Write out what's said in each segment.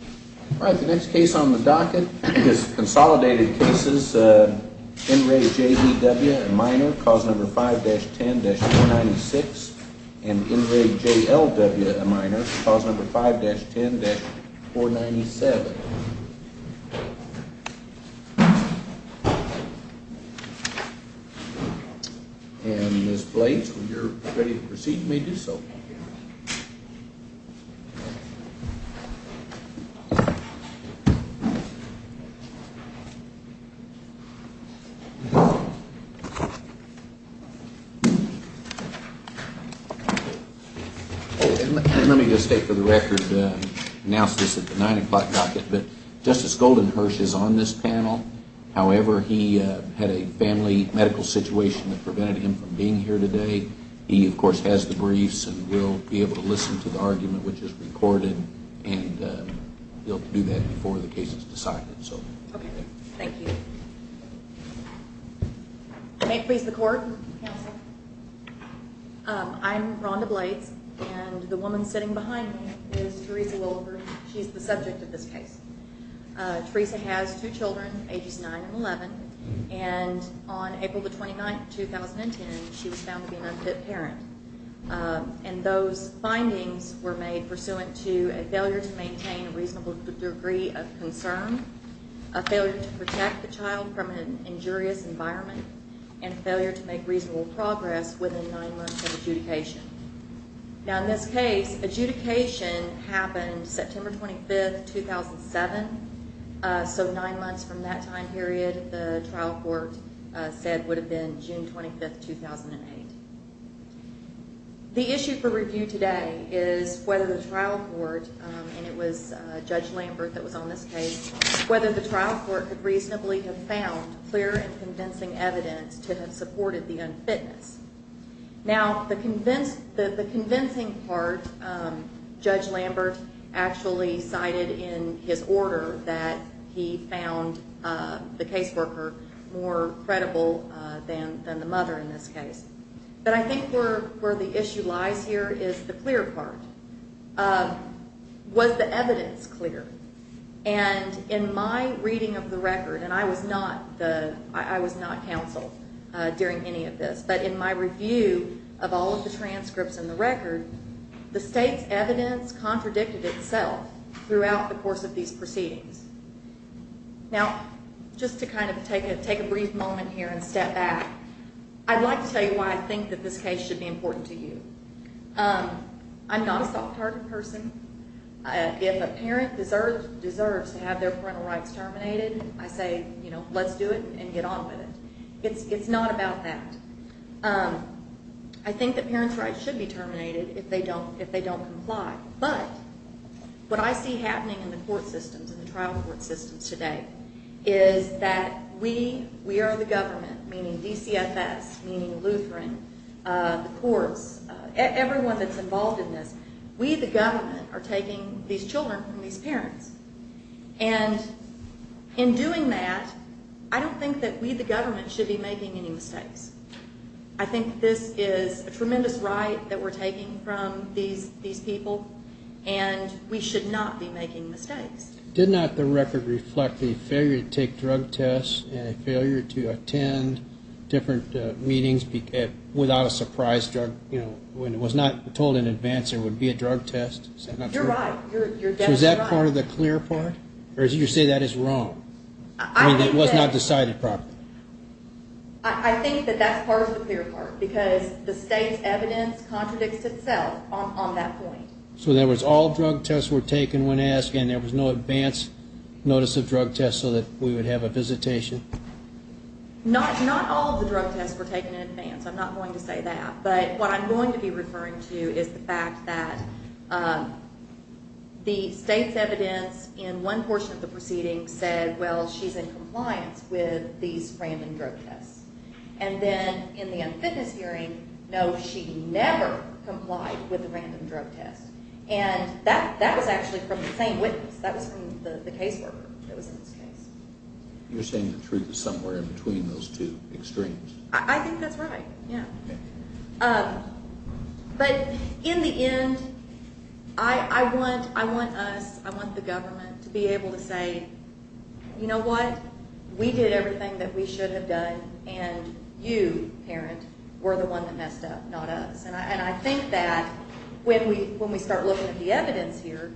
All right, the next case on the docket is consolidated cases. In re J.E.W. a minor, cause number 5-10-496 and in re J.L.W. a minor, cause number 5-10-497. And Ms. Blades, when you're ready to proceed, you may do so. Let me just state for the record, I announced this at the 9 o'clock docket, but Justice Goldenherz is on this panel. However, he had a family medical situation that prevented him from being here today. He, of course, has the briefs and will be able to listen to the argument, which is recorded, and he'll do that before the case is decided. Okay, thank you. May it please the court, counsel. I'm Rhonda Blades, and the woman sitting behind me is Theresa Wilber. She's the subject of this case. Theresa has two children, ages 9 and 11, and on April the 29th, 2010, she was found to be an unfit parent. And those findings were made pursuant to a failure to maintain a reasonable degree of concern, a failure to protect the child from an injurious environment, and a failure to make reasonable progress within nine months of adjudication. Now, in this case, adjudication happened September 25th, 2007, so nine months from that time period, the trial court said would have been June 25th, 2008. The issue for review today is whether the trial court, and it was Judge Lambert that was on this case, whether the trial court could reasonably have found clear and convincing evidence to have supported the unfitness. Now, the convincing part, Judge Lambert actually cited in his order that he found the caseworker more credible than the mother in this case. But I think where the issue lies here is the clear part. Was the evidence clear? And in my reading of the record, and I was not counsel during any of this, but in my review of all of the transcripts in the record, the state's evidence contradicted itself throughout the course of these proceedings. Now, just to kind of take a brief moment here and step back, I'd like to tell you why I think that this case should be important to you. I'm not a soft-target person. If a parent deserves to have their parental rights terminated, I say, you know, let's do it and get on with it. It's not about that. I think that parents' rights should be terminated if they don't comply. But what I see happening in the court systems and the trial court systems today is that we are the government, meaning DCFS, meaning Lutheran, the courts, everyone that's involved in this, we, the government, are taking these children from these parents. And in doing that, I don't think that we, the government, should be making any mistakes. I think this is a tremendous right that we're taking from these people, and we should not be making mistakes. Did not the record reflect the failure to take drug tests and a failure to attend different meetings without a surprise drug, you know, when it was not told in advance there would be a drug test? Is that not true? You're right. So is that part of the clear part? Or as you say, that is wrong. I mean, it was not decided properly. I think that that's part of the clear part because the state's evidence contradicts itself on that point. So in other words, all drug tests were taken when asked and there was no advance notice of drug tests so that we would have a visitation? Not all of the drug tests were taken in advance. I'm not going to say that. But what I'm going to be referring to is the fact that the state's evidence in one portion of the proceeding said, well, she's in compliance with these random drug tests. And then in the unfitness hearing, no, she never complied with the random drug test. And that was actually from the same witness. That was from the caseworker that was in this case. You're saying the truth is somewhere in between those two extremes. I think that's right, yeah. But in the end, I want us, I want the government to be able to say, you know what, we did everything that we should have done, and you, parent, were the one that messed up, not us. And I think that when we start looking at the evidence here,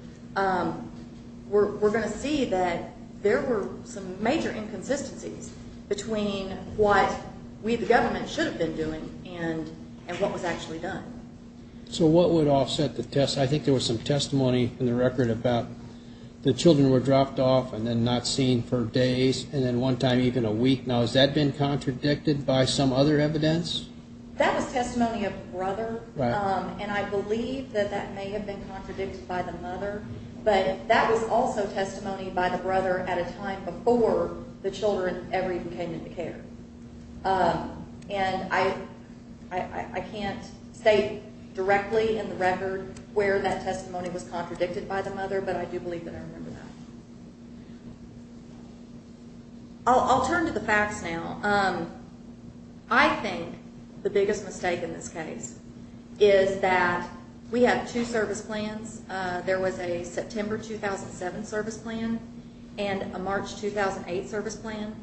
we're going to see that there were some major inconsistencies between what we, the government, should have been doing and what was actually done. So what would offset the test? I think there was some testimony in the record about the children were dropped off and then not seen for days, and then one time even a week. Now, has that been contradicted by some other evidence? That was testimony of a brother. And I believe that that may have been contradicted by the mother. But that was also testimony by the brother at a time before the children ever even came into care. And I can't say directly in the record where that testimony was contradicted by the mother, but I do believe that I remember that. I'll turn to the facts now. I think the biggest mistake in this case is that we have two service plans. There was a September 2007 service plan and a March 2008 service plan.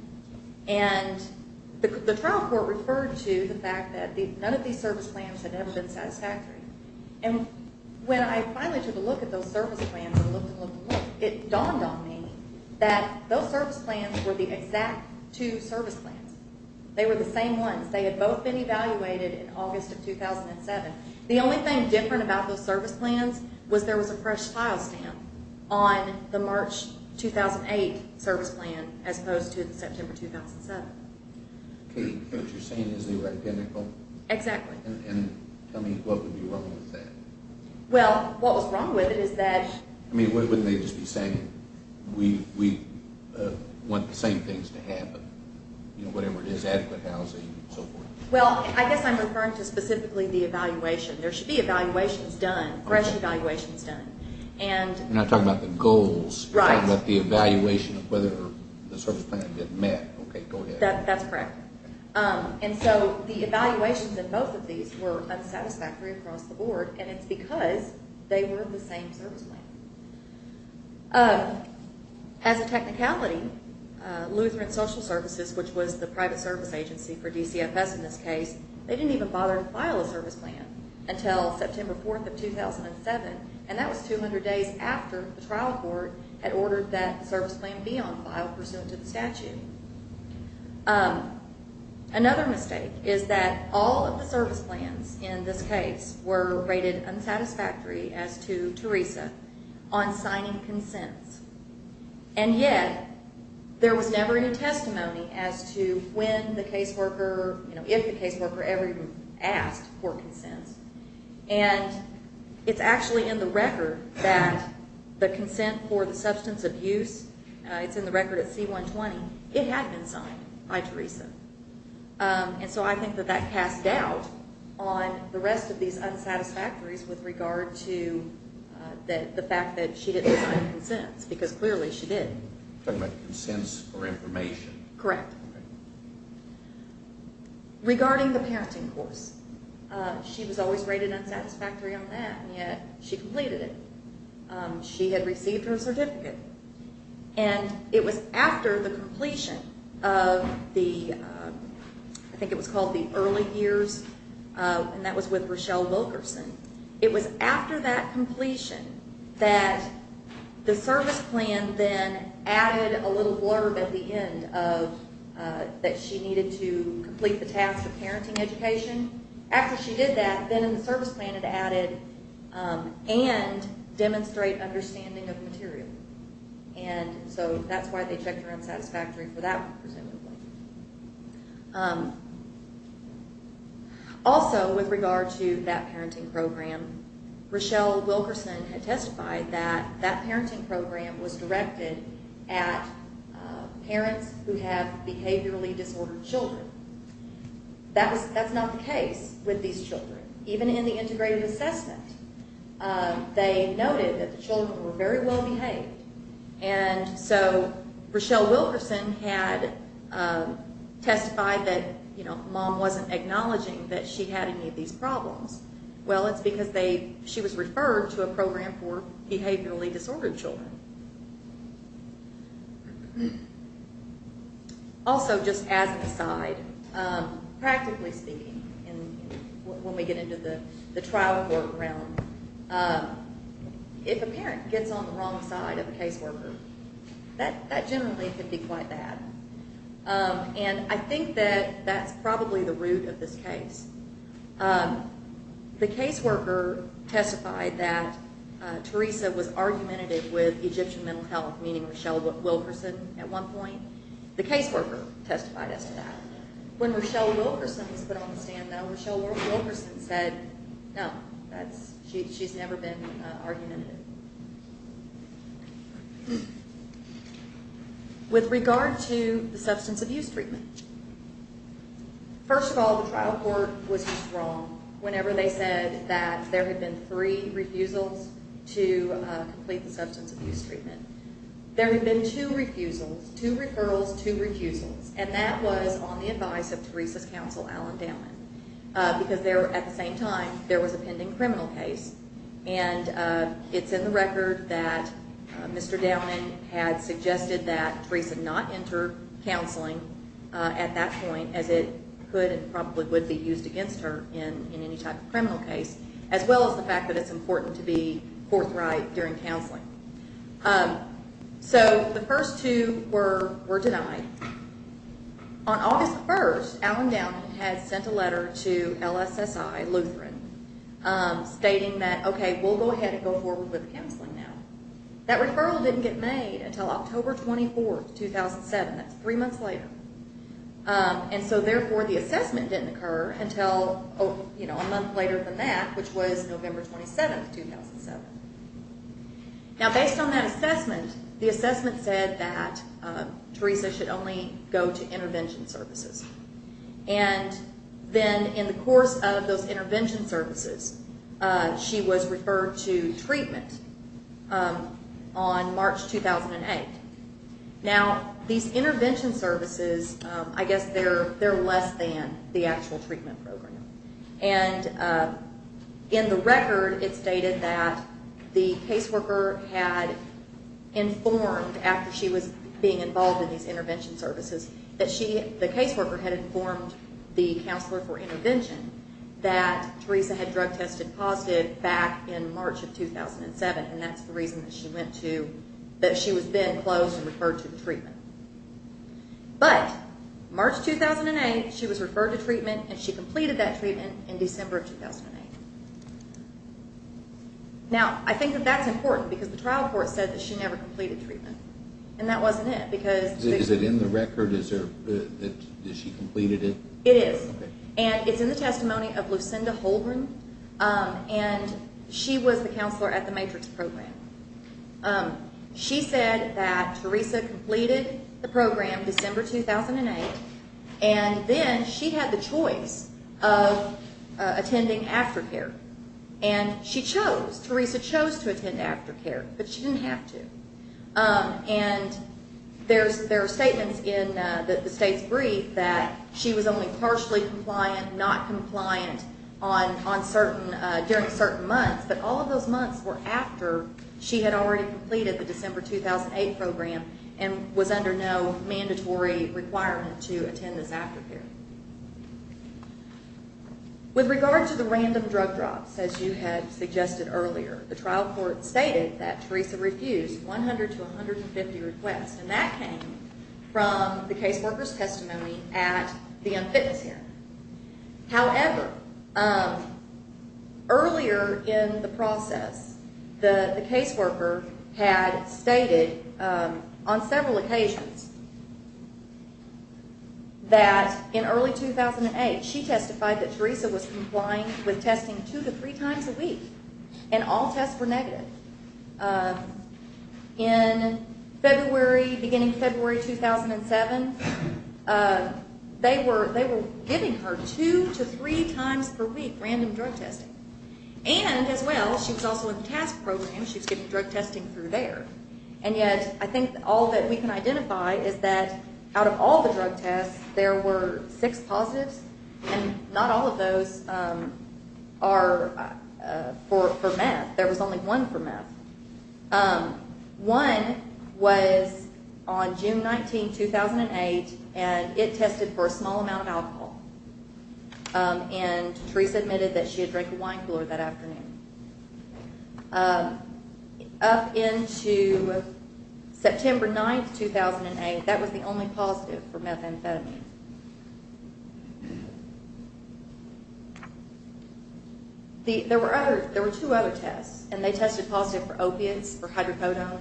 And the trial court referred to the fact that none of these service plans had ever been satisfactory. And when I finally took a look at those service plans and looked and looked and looked, it dawned on me that those service plans were the exact two service plans. They were the same ones. They had both been evaluated in August of 2007. The only thing different about those service plans was there was a fresh file stamp on the March 2008 service plan as opposed to the September 2007. Katie, what you're saying is they were identical? Exactly. And tell me, what would be wrong with that? Well, what was wrong with it is that— I mean, wouldn't they just be saying, we want the same things to happen, whatever it is, adequate housing and so forth? Well, I guess I'm referring to specifically the evaluation. There should be evaluations done, fresh evaluations done. You're not talking about the goals. Right. You're talking about the evaluation of whether the service plan had been met. Okay, go ahead. That's correct. And so the evaluations in both of these were unsatisfactory across the board, and it's because they were the same service plan. As a technicality, Lutheran Social Services, which was the private service agency for DCFS in this case, they didn't even bother to file a service plan until September 4th of 2007, and that was 200 days after the trial court had ordered that the service plan be on file pursuant to the statute. Another mistake is that all of the service plans in this case were rated unsatisfactory as to Teresa on signing consents, and yet there was never any testimony as to when the caseworker, if the caseworker ever asked for consents, and it's actually in the record that the consent for the substance abuse, it's in the record at C-120, it had been signed by Teresa. And so I think that that casts doubt on the rest of these unsatisfactories with regard to the fact that she didn't sign consents, because clearly she did. You're talking about consents for information. Correct. Regarding the parenting course, she was always rated unsatisfactory on that, and yet she completed it. She had received her certificate, and it was after the completion of the, I think it was called the early years, and that was with Rochelle Wilkerson, it was after that completion that the service plan then added a little blurb at the end that she needed to complete the task of parenting education. After she did that, then in the service plan it added, and demonstrate understanding of material. And so that's why they checked her unsatisfactory for that one, presumably. Also, with regard to that parenting program, Rochelle Wilkerson had testified that that parenting program was directed at parents who have behaviorally disordered children. That's not the case with these children. Even in the integrated assessment, they noted that the children were very well behaved. And so Rochelle Wilkerson had testified that mom wasn't acknowledging that she had any of these problems. Well, it's because she was referred to a program for behaviorally disordered children. Also, just as an aside, practically speaking, when we get into the trial court realm, if a parent gets on the wrong side of a caseworker, that generally can be quite bad. And I think that that's probably the root of this case. The caseworker testified that Theresa was argumentative with Egyptian mental health, meaning Rochelle Wilkerson at one point. The caseworker testified as to that. When Rochelle Wilkerson was put on the stand, though, Rochelle Wilkerson said, no, she's never been argumentative. With regard to the substance abuse treatment, first of all, the trial court was just wrong whenever they said that there had been three refusals to complete the substance abuse treatment. There had been two refusals, two referrals, two refusals, and that was on the advice of Theresa's counsel, Alan Downman, because at the same time, there was a pending criminal case. And it's in the record that Mr. Downman had suggested that Theresa not enter counseling at that point, as it could and probably would be used against her in any type of criminal case, as well as the fact that it's important to be forthright during counseling. So the first two were denied. On August 1st, Alan Downman had sent a letter to LSSI, Lutheran, stating that, okay, we'll go ahead and go forward with counseling now. That referral didn't get made until October 24th, 2007. That's three months later. And so, therefore, the assessment didn't occur until a month later than that, which was November 27th, 2007. Now, based on that assessment, the assessment said that Theresa should only go to intervention services. And then in the course of those intervention services, she was referred to treatment on March 2008. Now, these intervention services, I guess they're less than the actual treatment program. And in the record, it's stated that the caseworker had informed, after she was being involved in these intervention services, that the caseworker had informed the counselor for intervention that Theresa had drug-tested positive back in March of 2007, and that's the reason that she was then closed and referred to the treatment. But March 2008, she was referred to treatment, and she completed that treatment in December of 2008. Now, I think that that's important, because the trial court said that she never completed treatment, and that wasn't it. Is it in the record? Is she completed it? It is, and it's in the testimony of Lucinda Holdren, and she was the counselor at the MATRIX program. She said that Theresa completed the program December 2008, and then she had the choice of attending aftercare, and she chose. Theresa chose to attend aftercare, but she didn't have to. And there are statements in the state's brief that she was only partially compliant, not compliant during certain months, but all of those months were after she had already completed the December 2008 program and was under no mandatory requirement to attend this aftercare. With regard to the random drug drops, as you had suggested earlier, the trial court stated that Theresa refused 100 to 150 requests, and that came from the caseworker's testimony at the unfitness hearing. However, earlier in the process, the caseworker had stated on several occasions that in early 2008, she testified that Theresa was complying with testing two to three times a week and all tests were negative. In February, beginning of February 2007, they were giving her two to three times per week random drug testing. And as well, she was also in the TASC program. She was giving drug testing through there. And yet I think all that we can identify is that out of all the drug tests, there were six positives, and not all of those are for meth. There was only one for meth. One was on June 19, 2008, and it tested for a small amount of alcohol. And Theresa admitted that she had drank a wine cooler that afternoon. Up into September 9, 2008, that was the only positive for methamphetamine. There were two other tests, and they tested positive for opiates, for hydrocodone,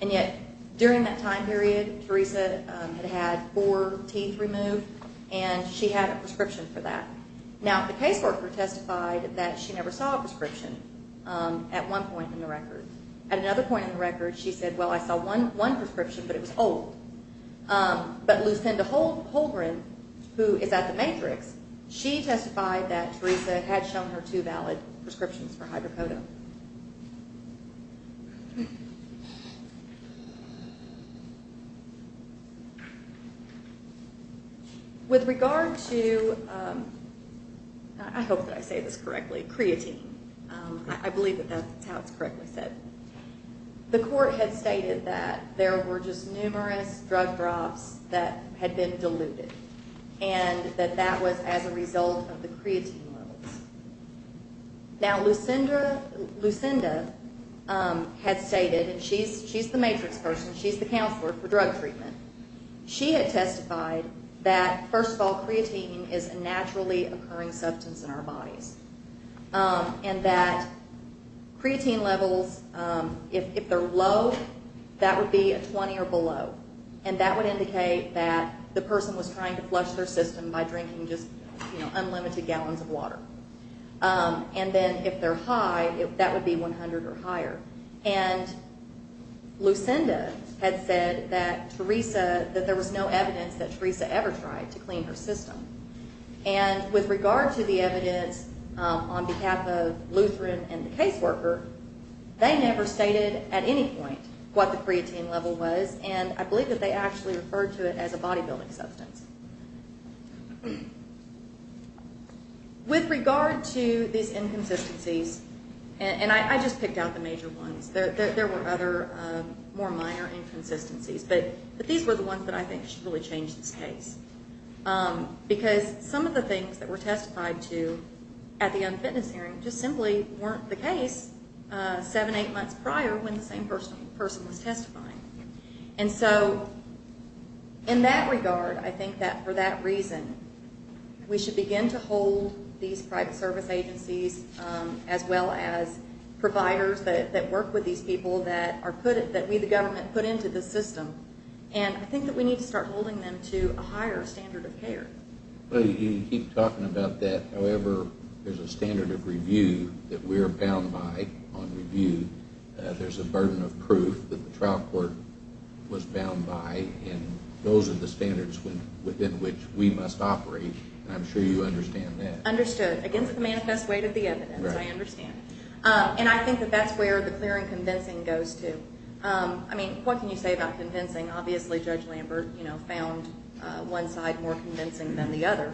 and yet during that time period, Theresa had had four teeth removed, and she had a prescription for that. Now, the caseworker testified that she never saw a prescription at one point in the record. At another point in the record, she said, Well, I saw one prescription, but it was old. But Lucinda Holgren, who is at the Matrix, she testified that Theresa had shown her two valid prescriptions for hydrocodone. With regard to, I hope that I say this correctly, creatine. I believe that that's how it's correctly said. The court had stated that there were just numerous drug drops that had been diluted, and that that was as a result of the creatine levels. Now, Lucinda, Lucinda Holgren, Lucinda had stated, and she's the Matrix person. She's the counselor for drug treatment. She had testified that, first of all, creatine is a naturally occurring substance in our bodies, and that creatine levels, if they're low, that would be a 20 or below, and that would indicate that the person was trying to flush their system by drinking just unlimited gallons of water. And then if they're high, that would be 100 or higher. And Lucinda had said that Theresa, that there was no evidence that Theresa ever tried to clean her system. And with regard to the evidence on behalf of Lutheran and the caseworker, they never stated at any point what the creatine level was, and I believe that they actually referred to it as a bodybuilding substance. With regard to these inconsistencies, and I just picked out the major ones. There were other more minor inconsistencies, but these were the ones that I think should really change this case, because some of the things that were testified to at the unfitness hearing just simply weren't the case seven, eight months prior when the same person was testifying. And so in that regard, I think that for that reason, we should begin to hold these private service agencies as well as providers that work with these people that we the government put into the system, and I think that we need to start holding them to a higher standard of care. Well, you keep talking about that. However, there's a standard of review that we're bound by on review. There's a burden of proof that the trial court was bound by, and those are the standards within which we must operate, and I'm sure you understand that. Understood. Against the manifest weight of the evidence, I understand. And I think that that's where the clear and convincing goes to. I mean, what can you say about convincing? Obviously, Judge Lambert found one side more convincing than the other,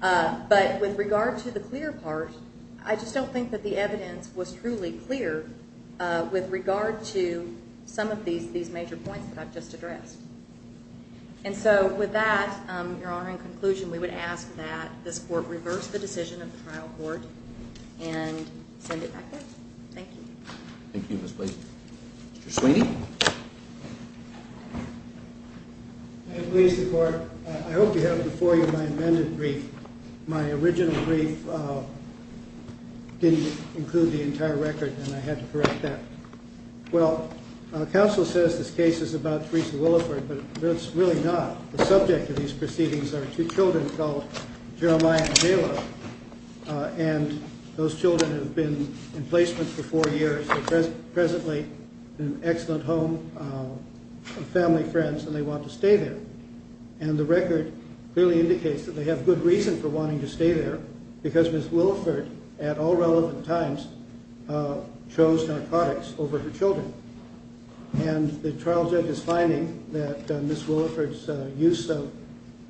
but with regard to the clear part, I just don't think that the evidence was truly clear with regard to some of these major points that I've just addressed. And so with that, Your Honor, in conclusion, we would ask that this court reverse the decision of the trial court and send it back up. Thank you. Thank you, Ms. Blasey. Mr. Sweeney? Good morning, Mr. Court. I hope you have before you my amended brief. My original brief didn't include the entire record, and I had to correct that. Well, counsel says this case is about Theresa Williford, but it's really not. The subject of these proceedings are two children called Jeremiah and Hala, and those children have been in placement for four years. They're presently in an excellent home, family, friends, and they want to stay there. And the record clearly indicates that they have good reason for wanting to stay there because Ms. Williford, at all relevant times, chose narcotics over her children. And the trial judge's finding that Ms. Williford's use of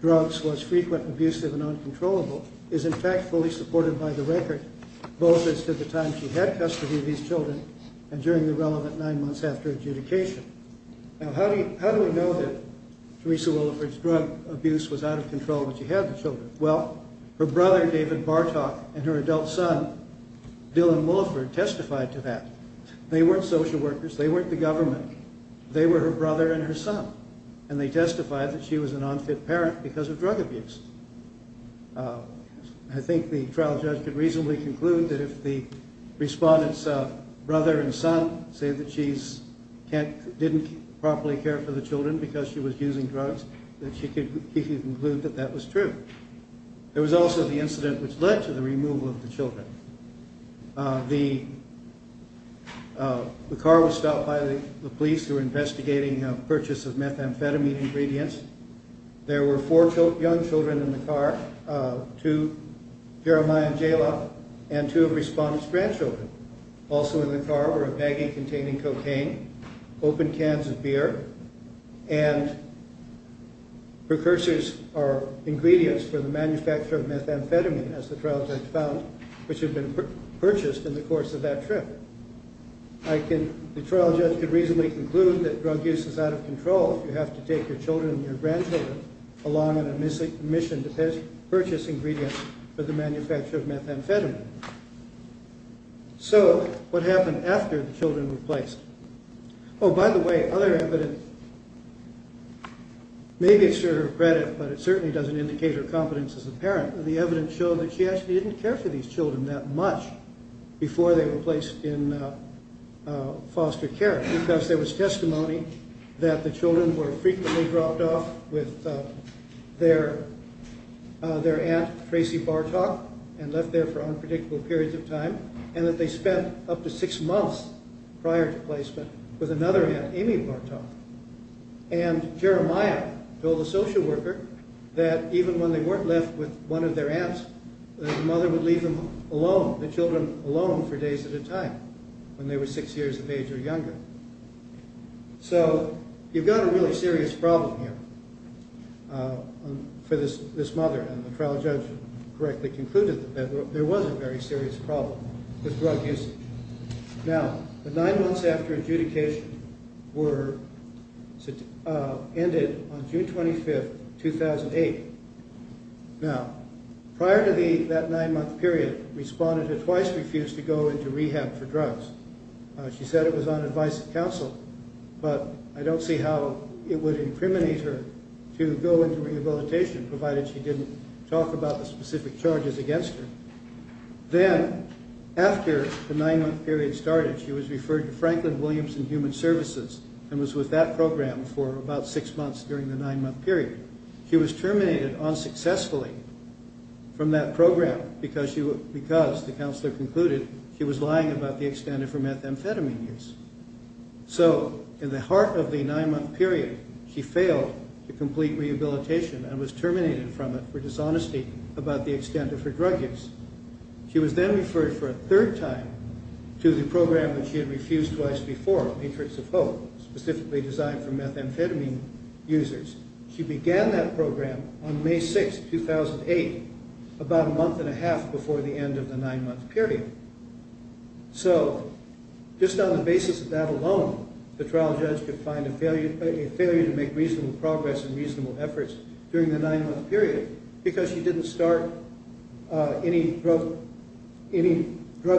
drugs was frequent, abusive, and uncontrollable is, in fact, fully supported by the record, both as to the time she had custody of these children and during the relevant nine months after adjudication. Now, how do we know that Theresa Williford's drug abuse was out of control when she had the children? Well, her brother, David Bartok, and her adult son, Dylan Williford, testified to that. They weren't social workers. They weren't the government. They were her brother and her son, and they testified that she was an unfit parent because of drug abuse. I think the trial judge could reasonably conclude that if the respondent's brother and son say that she didn't properly care for the children because she was using drugs, that she could conclude that that was true. There was also the incident which led to the removal of the children. The car was stopped by the police who were investigating a purchase of methamphetamine ingredients. There were four young children in the car, two Jeremiah and Jalop, and two of the respondent's grandchildren. Also in the car were a baggie containing cocaine, open cans of beer, and precursors or ingredients for the manufacture of methamphetamine, as the trial judge found, which had been purchased in the course of that trip. The trial judge could reasonably conclude that drug use is out of control. You have to take your children and your grandchildren along on a mission to purchase ingredients for the manufacture of methamphetamine. So what happened after the children were placed? Oh, by the way, other evidence... Maybe it's to her credit, but it certainly doesn't indicate her competence as a parent. The evidence showed that she actually didn't care for these children that much before they were placed in foster care because there was testimony that the children were frequently dropped off with their aunt, Tracy Bartok, and left there for unpredictable periods of time, and that they spent up to six months prior to placement with another aunt, Amy Bartok. And Jeremiah told the social worker that even when they weren't left with one of their aunts, that the mother would leave them alone, the children alone for days at a time when they were six years of age or younger. So you've got a really serious problem here for this mother, and the trial judge correctly concluded that there was a very serious problem with drug usage. Now, the nine months after adjudication ended on June 25, 2008. Now, prior to that nine-month period, she said it was on advice of counsel, but I don't see how it would incriminate her to go into rehabilitation, provided she didn't talk about the specific charges against her. Then, after the nine-month period started, she was referred to Franklin Williams and Human Services and was with that program for about six months during the nine-month period. She was terminated unsuccessfully from that program because the counselor concluded she was lying about the extent of her methamphetamine use. So, in the heart of the nine-month period, she failed to complete rehabilitation and was terminated from it for dishonesty about the extent of her drug use. She was then referred for a third time to the program that she had refused twice before, Matrix of Hope, specifically designed for methamphetamine users. She began that program on May 6, 2008, about a month and a half before the end of the nine-month period. So, just on the basis of that alone, the trial judge could find a failure to make reasonable progress and reasonable efforts during the nine-month period because she didn't start any drug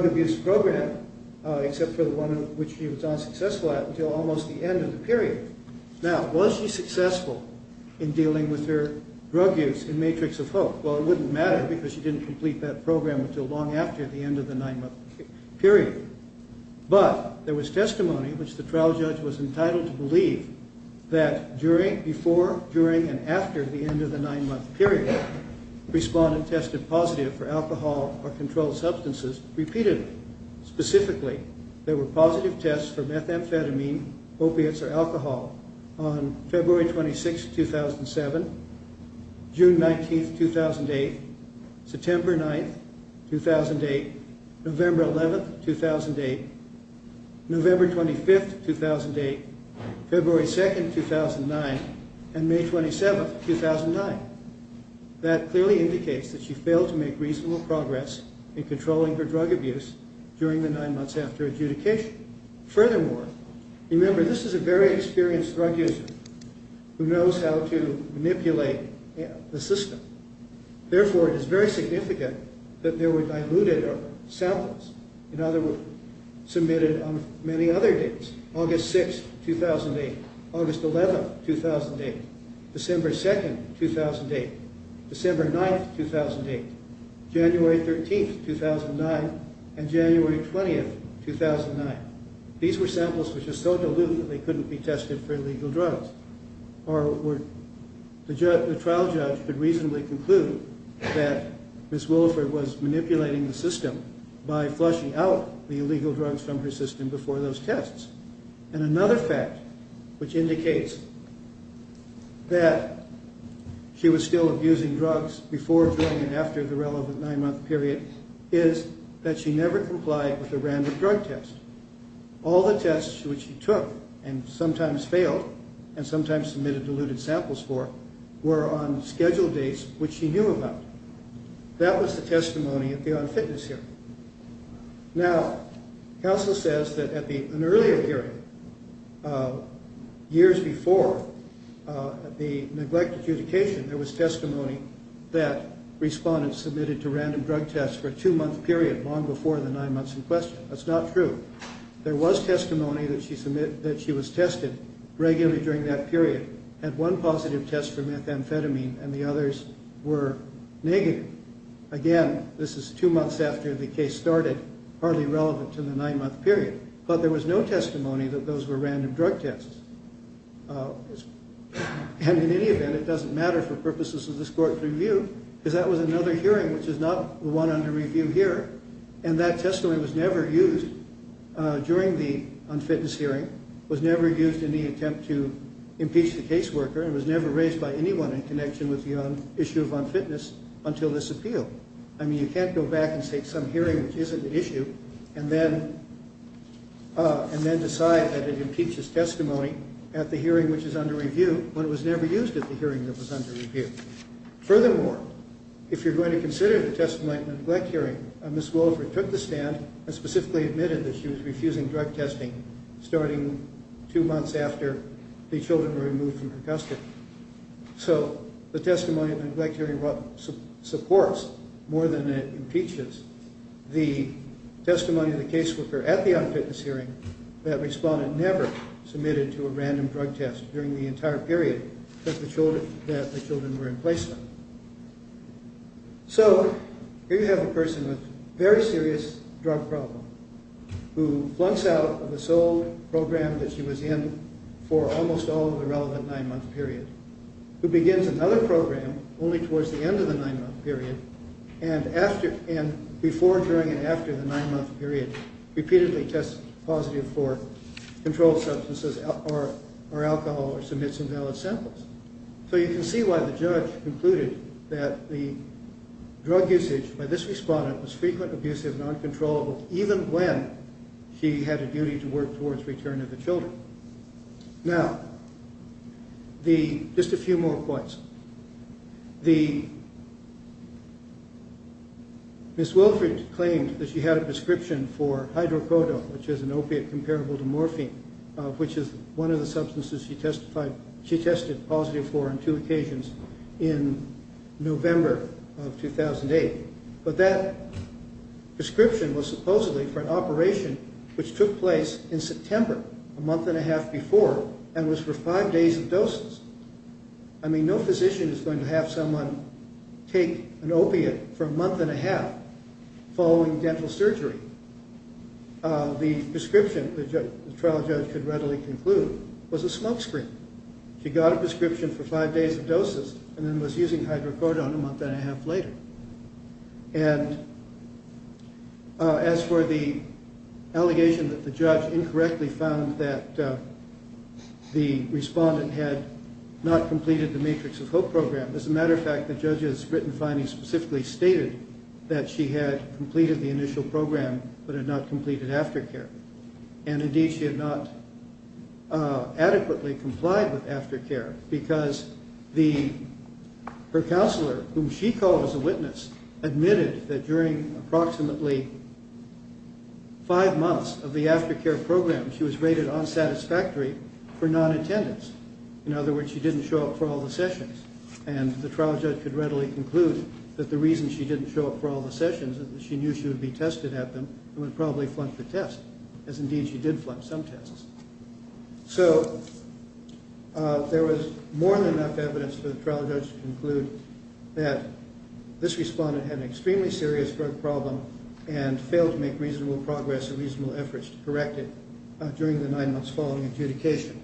abuse program except for the one in which she was unsuccessful at until almost the end of the period. Now, was she successful in dealing with her drug use in Matrix of Hope? Well, it wouldn't matter because she didn't complete that program until long after the end of the nine-month period. But there was testimony in which the trial judge was entitled to believe that before, during, and after the end of the nine-month period, respondents tested positive for alcohol or controlled substances repeatedly. Specifically, there were positive tests for methamphetamine, opiates, or alcohol on February 26, 2007, June 19, 2008, September 9, 2008, November 11, 2008, November 25, 2008, February 2, 2009, and May 27, 2009. That clearly indicates that she failed to make reasonable progress in controlling her drug abuse during the nine months after adjudication. Furthermore, remember, this is a very experienced drug user who knows how to manipulate the system. Therefore, it is very significant that there were diluted samples, in other words, submitted on many other dates, August 6, 2008, August 11, 2008, December 2, 2008, December 9, 2008, January 13, 2009, and January 20, 2009. These were samples which were so diluted that they couldn't be tested for illegal drugs. The trial judge could reasonably conclude that Ms. Williford was manipulating the system by flushing out the illegal drugs from her system before those tests. And another fact which indicates that she was still abusing drugs before, during, and after the relevant nine-month period is that she never complied with a random drug test. All the tests which she took, and sometimes failed, and sometimes submitted diluted samples for, were on scheduled dates which she knew about. That was the testimony at the On Fitness hearing. Now, counsel says that at an earlier hearing, years before the neglect adjudication, there was testimony that respondents submitted to random drug tests for a two-month period long before the nine months in question. That's not true. There was testimony that she was tested regularly during that period and one positive test for methamphetamine and the others were negative. Again, this is two months after the case started, hardly relevant to the nine-month period. But there was no testimony that those were random drug tests. And in any event, it doesn't matter for purposes of this court's review because that was another hearing which is not the one under review here. And that testimony was never used during the On Fitness hearing, was never used in the attempt to impeach the caseworker, and was never raised by anyone in connection with the issue of On Fitness until this appeal. I mean, you can't go back and take some hearing which isn't an issue and then decide that it impeaches testimony at the hearing which is under review when it was never used at the hearing that was under review. Furthermore, if you're going to consider the testimony at the neglect hearing, Ms. Wolfert took the stand and specifically admitted that she was refusing drug testing starting two months after the children were removed from her custody. So the testimony at the neglect hearing supports more than it impeaches the testimony of the caseworker at the On Fitness hearing that respondent never submitted to a random drug test during the entire period that the children were in place for. So, here you have a person with a very serious drug problem who flunks out of the sole program that she was in for almost all of the relevant nine-month period, who begins another program only towards the end of the nine-month period, and before, during, and after the nine-month period repeatedly tests positive for controlled substances or alcohol or submits invalid samples. So you can see why the judge concluded that the drug usage by this respondent was frequent, abusive, and uncontrollable even when she had a duty to work towards return of the children. Now, just a few more points. The... Ms. Wilfrid claimed that she had a prescription for hydrocodone, which is an opiate comparable to morphine, which is one of the substances she testified... she tested positive for on two occasions in November of 2008. But that prescription was supposedly for an operation which took place in September, a month and a half before, and was for five days of doses. I mean, no physician is going to have someone take an opiate for a month and a half following dental surgery. The prescription, the trial judge could readily conclude, was a smoke screen. She got a prescription for five days of doses and then was using hydrocodone a month and a half later. And as for the allegation that the judge incorrectly found that the respondent had not completed the Matrix of Hope program, as a matter of fact, the judge's written findings specifically stated that she had completed the initial program but had not completed aftercare. And indeed, she had not adequately complied with aftercare, because her counselor, whom she called as a witness, admitted that during approximately five months of the aftercare program she was rated unsatisfactory for non-attendance. In other words, she didn't show up for all the sessions. And the trial judge could readily conclude that the reason she didn't show up for all the sessions is that she knew she would be tested at them and would probably flunk the test, as indeed she did flunk some tests. So there was more than enough evidence for the trial judge to conclude that this respondent had an extremely serious drug problem and failed to make reasonable progress or reasonable efforts to correct it during the nine months following adjudication.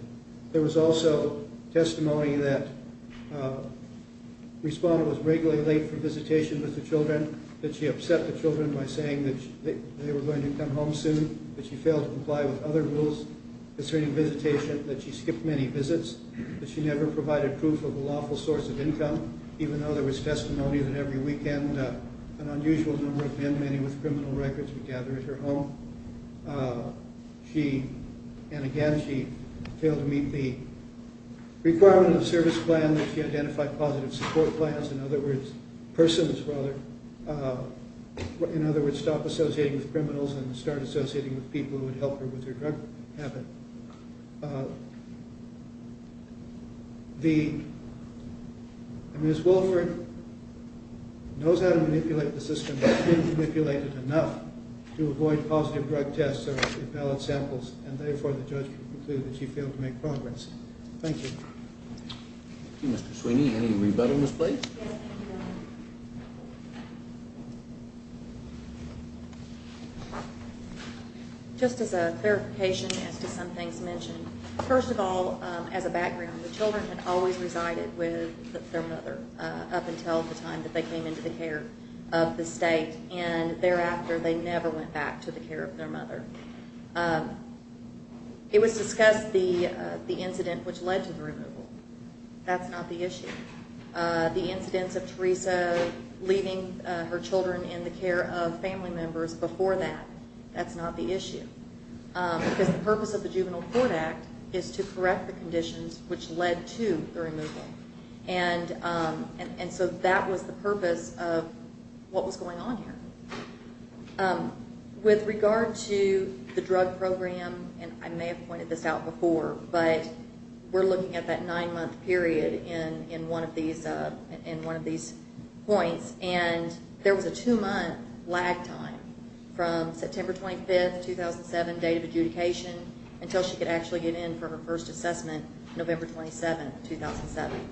There was also testimony that the respondent was regularly late for visitation with the children, that she upset the children by saying that they were going to come home soon, that she failed to comply with other rules concerning visitation, that she skipped many visits, that she never provided proof of a lawful source of income, even though there was testimony that every weekend an unusual number of men, many with criminal records, would gather at her home. And again, she failed to meet the requirement of the service plan that she identified positive support plans, in other words, persons, rather, in other words, stop associating with criminals and start associating with people who would help her with her drug habit. Ms. Wolford knows how to manipulate the system, and has been manipulated enough to avoid positive drug tests or repellent samples, and therefore the judge would conclude that she failed to make progress. Thank you. Thank you, Mr. Sweeney. Any rebuttal, Ms. Blake? Yes, thank you, Your Honor. Just as a clarification as to some things mentioned, first of all, as a background, the children had always resided with their mother up until the time that they came into the care of the state, and thereafter they never went back to the care of their mother. It was discussed the incident which led to the removal. That's not the issue. The incidents of Teresa leaving her children in the care of family members before that, that's not the issue, because the purpose of the Juvenile Court Act is to correct the conditions which led to the removal. And so that was the purpose of what was going on here. With regard to the drug program, and I may have pointed this out before, but we're looking at that nine-month period in one of these points, and there was a two-month lag time from September 25, 2007, date of adjudication, until she could actually get in for her first assessment, November 27, 2007.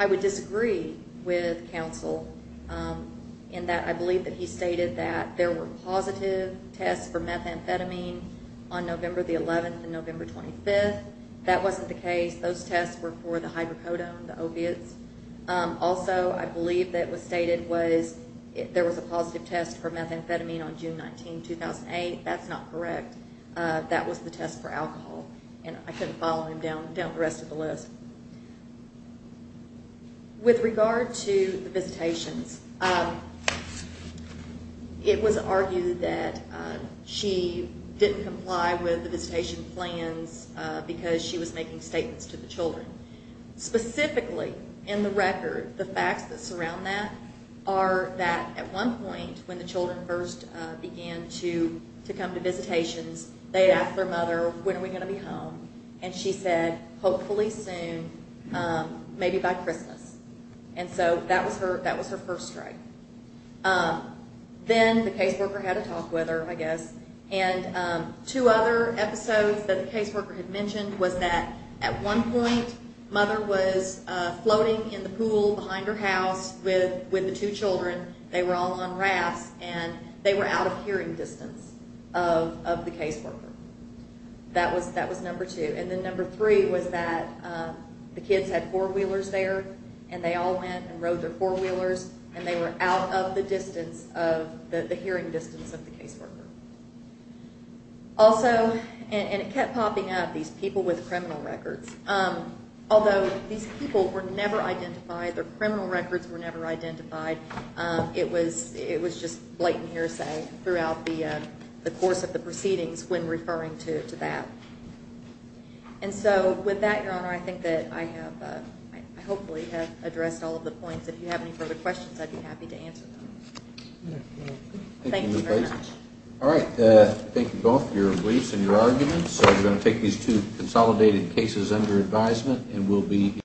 I would disagree with counsel in that I believe that he stated that there were positive tests for methamphetamine on November 11 and November 25. That wasn't the case. Those tests were for the hydrocodone, the opiates. Also, I believe that what was stated was there was a positive test for methamphetamine on June 19, 2008. That's not correct. That was the test for alcohol, and I couldn't follow him down the rest of the list. With regard to the visitations, it was argued that she didn't comply with the visitation plans because she was making statements to the children. Specifically, in the record, the facts that surround that are that at one point, when the children first began to come to visitations, they asked their mother, when are we going to be home? She said, hopefully soon, maybe by Christmas. That was her first strike. Then the caseworker had a talk with her, I guess. Two other episodes that the caseworker had mentioned was that at one point, Mother was floating in the pool behind her house with the two children. They were all on rafts, and they were out of hearing distance of the caseworker. That was number two. Then number three was that the kids had four-wheelers there, and they all went and rode their four-wheelers, and they were out of the distance, of the hearing distance of the caseworker. Also, and it kept popping up, these people with criminal records. Although these people were never identified, their criminal records were never identified, it was just blatant hearsay throughout the course of the proceedings when referring to that. With that, Your Honor, I think that I hopefully have addressed all of the points. If you have any further questions, I'd be happy to answer them. Thank you very much. All right. Thank you both for your briefs and your arguments. We're going to take these two consolidated cases under advisement.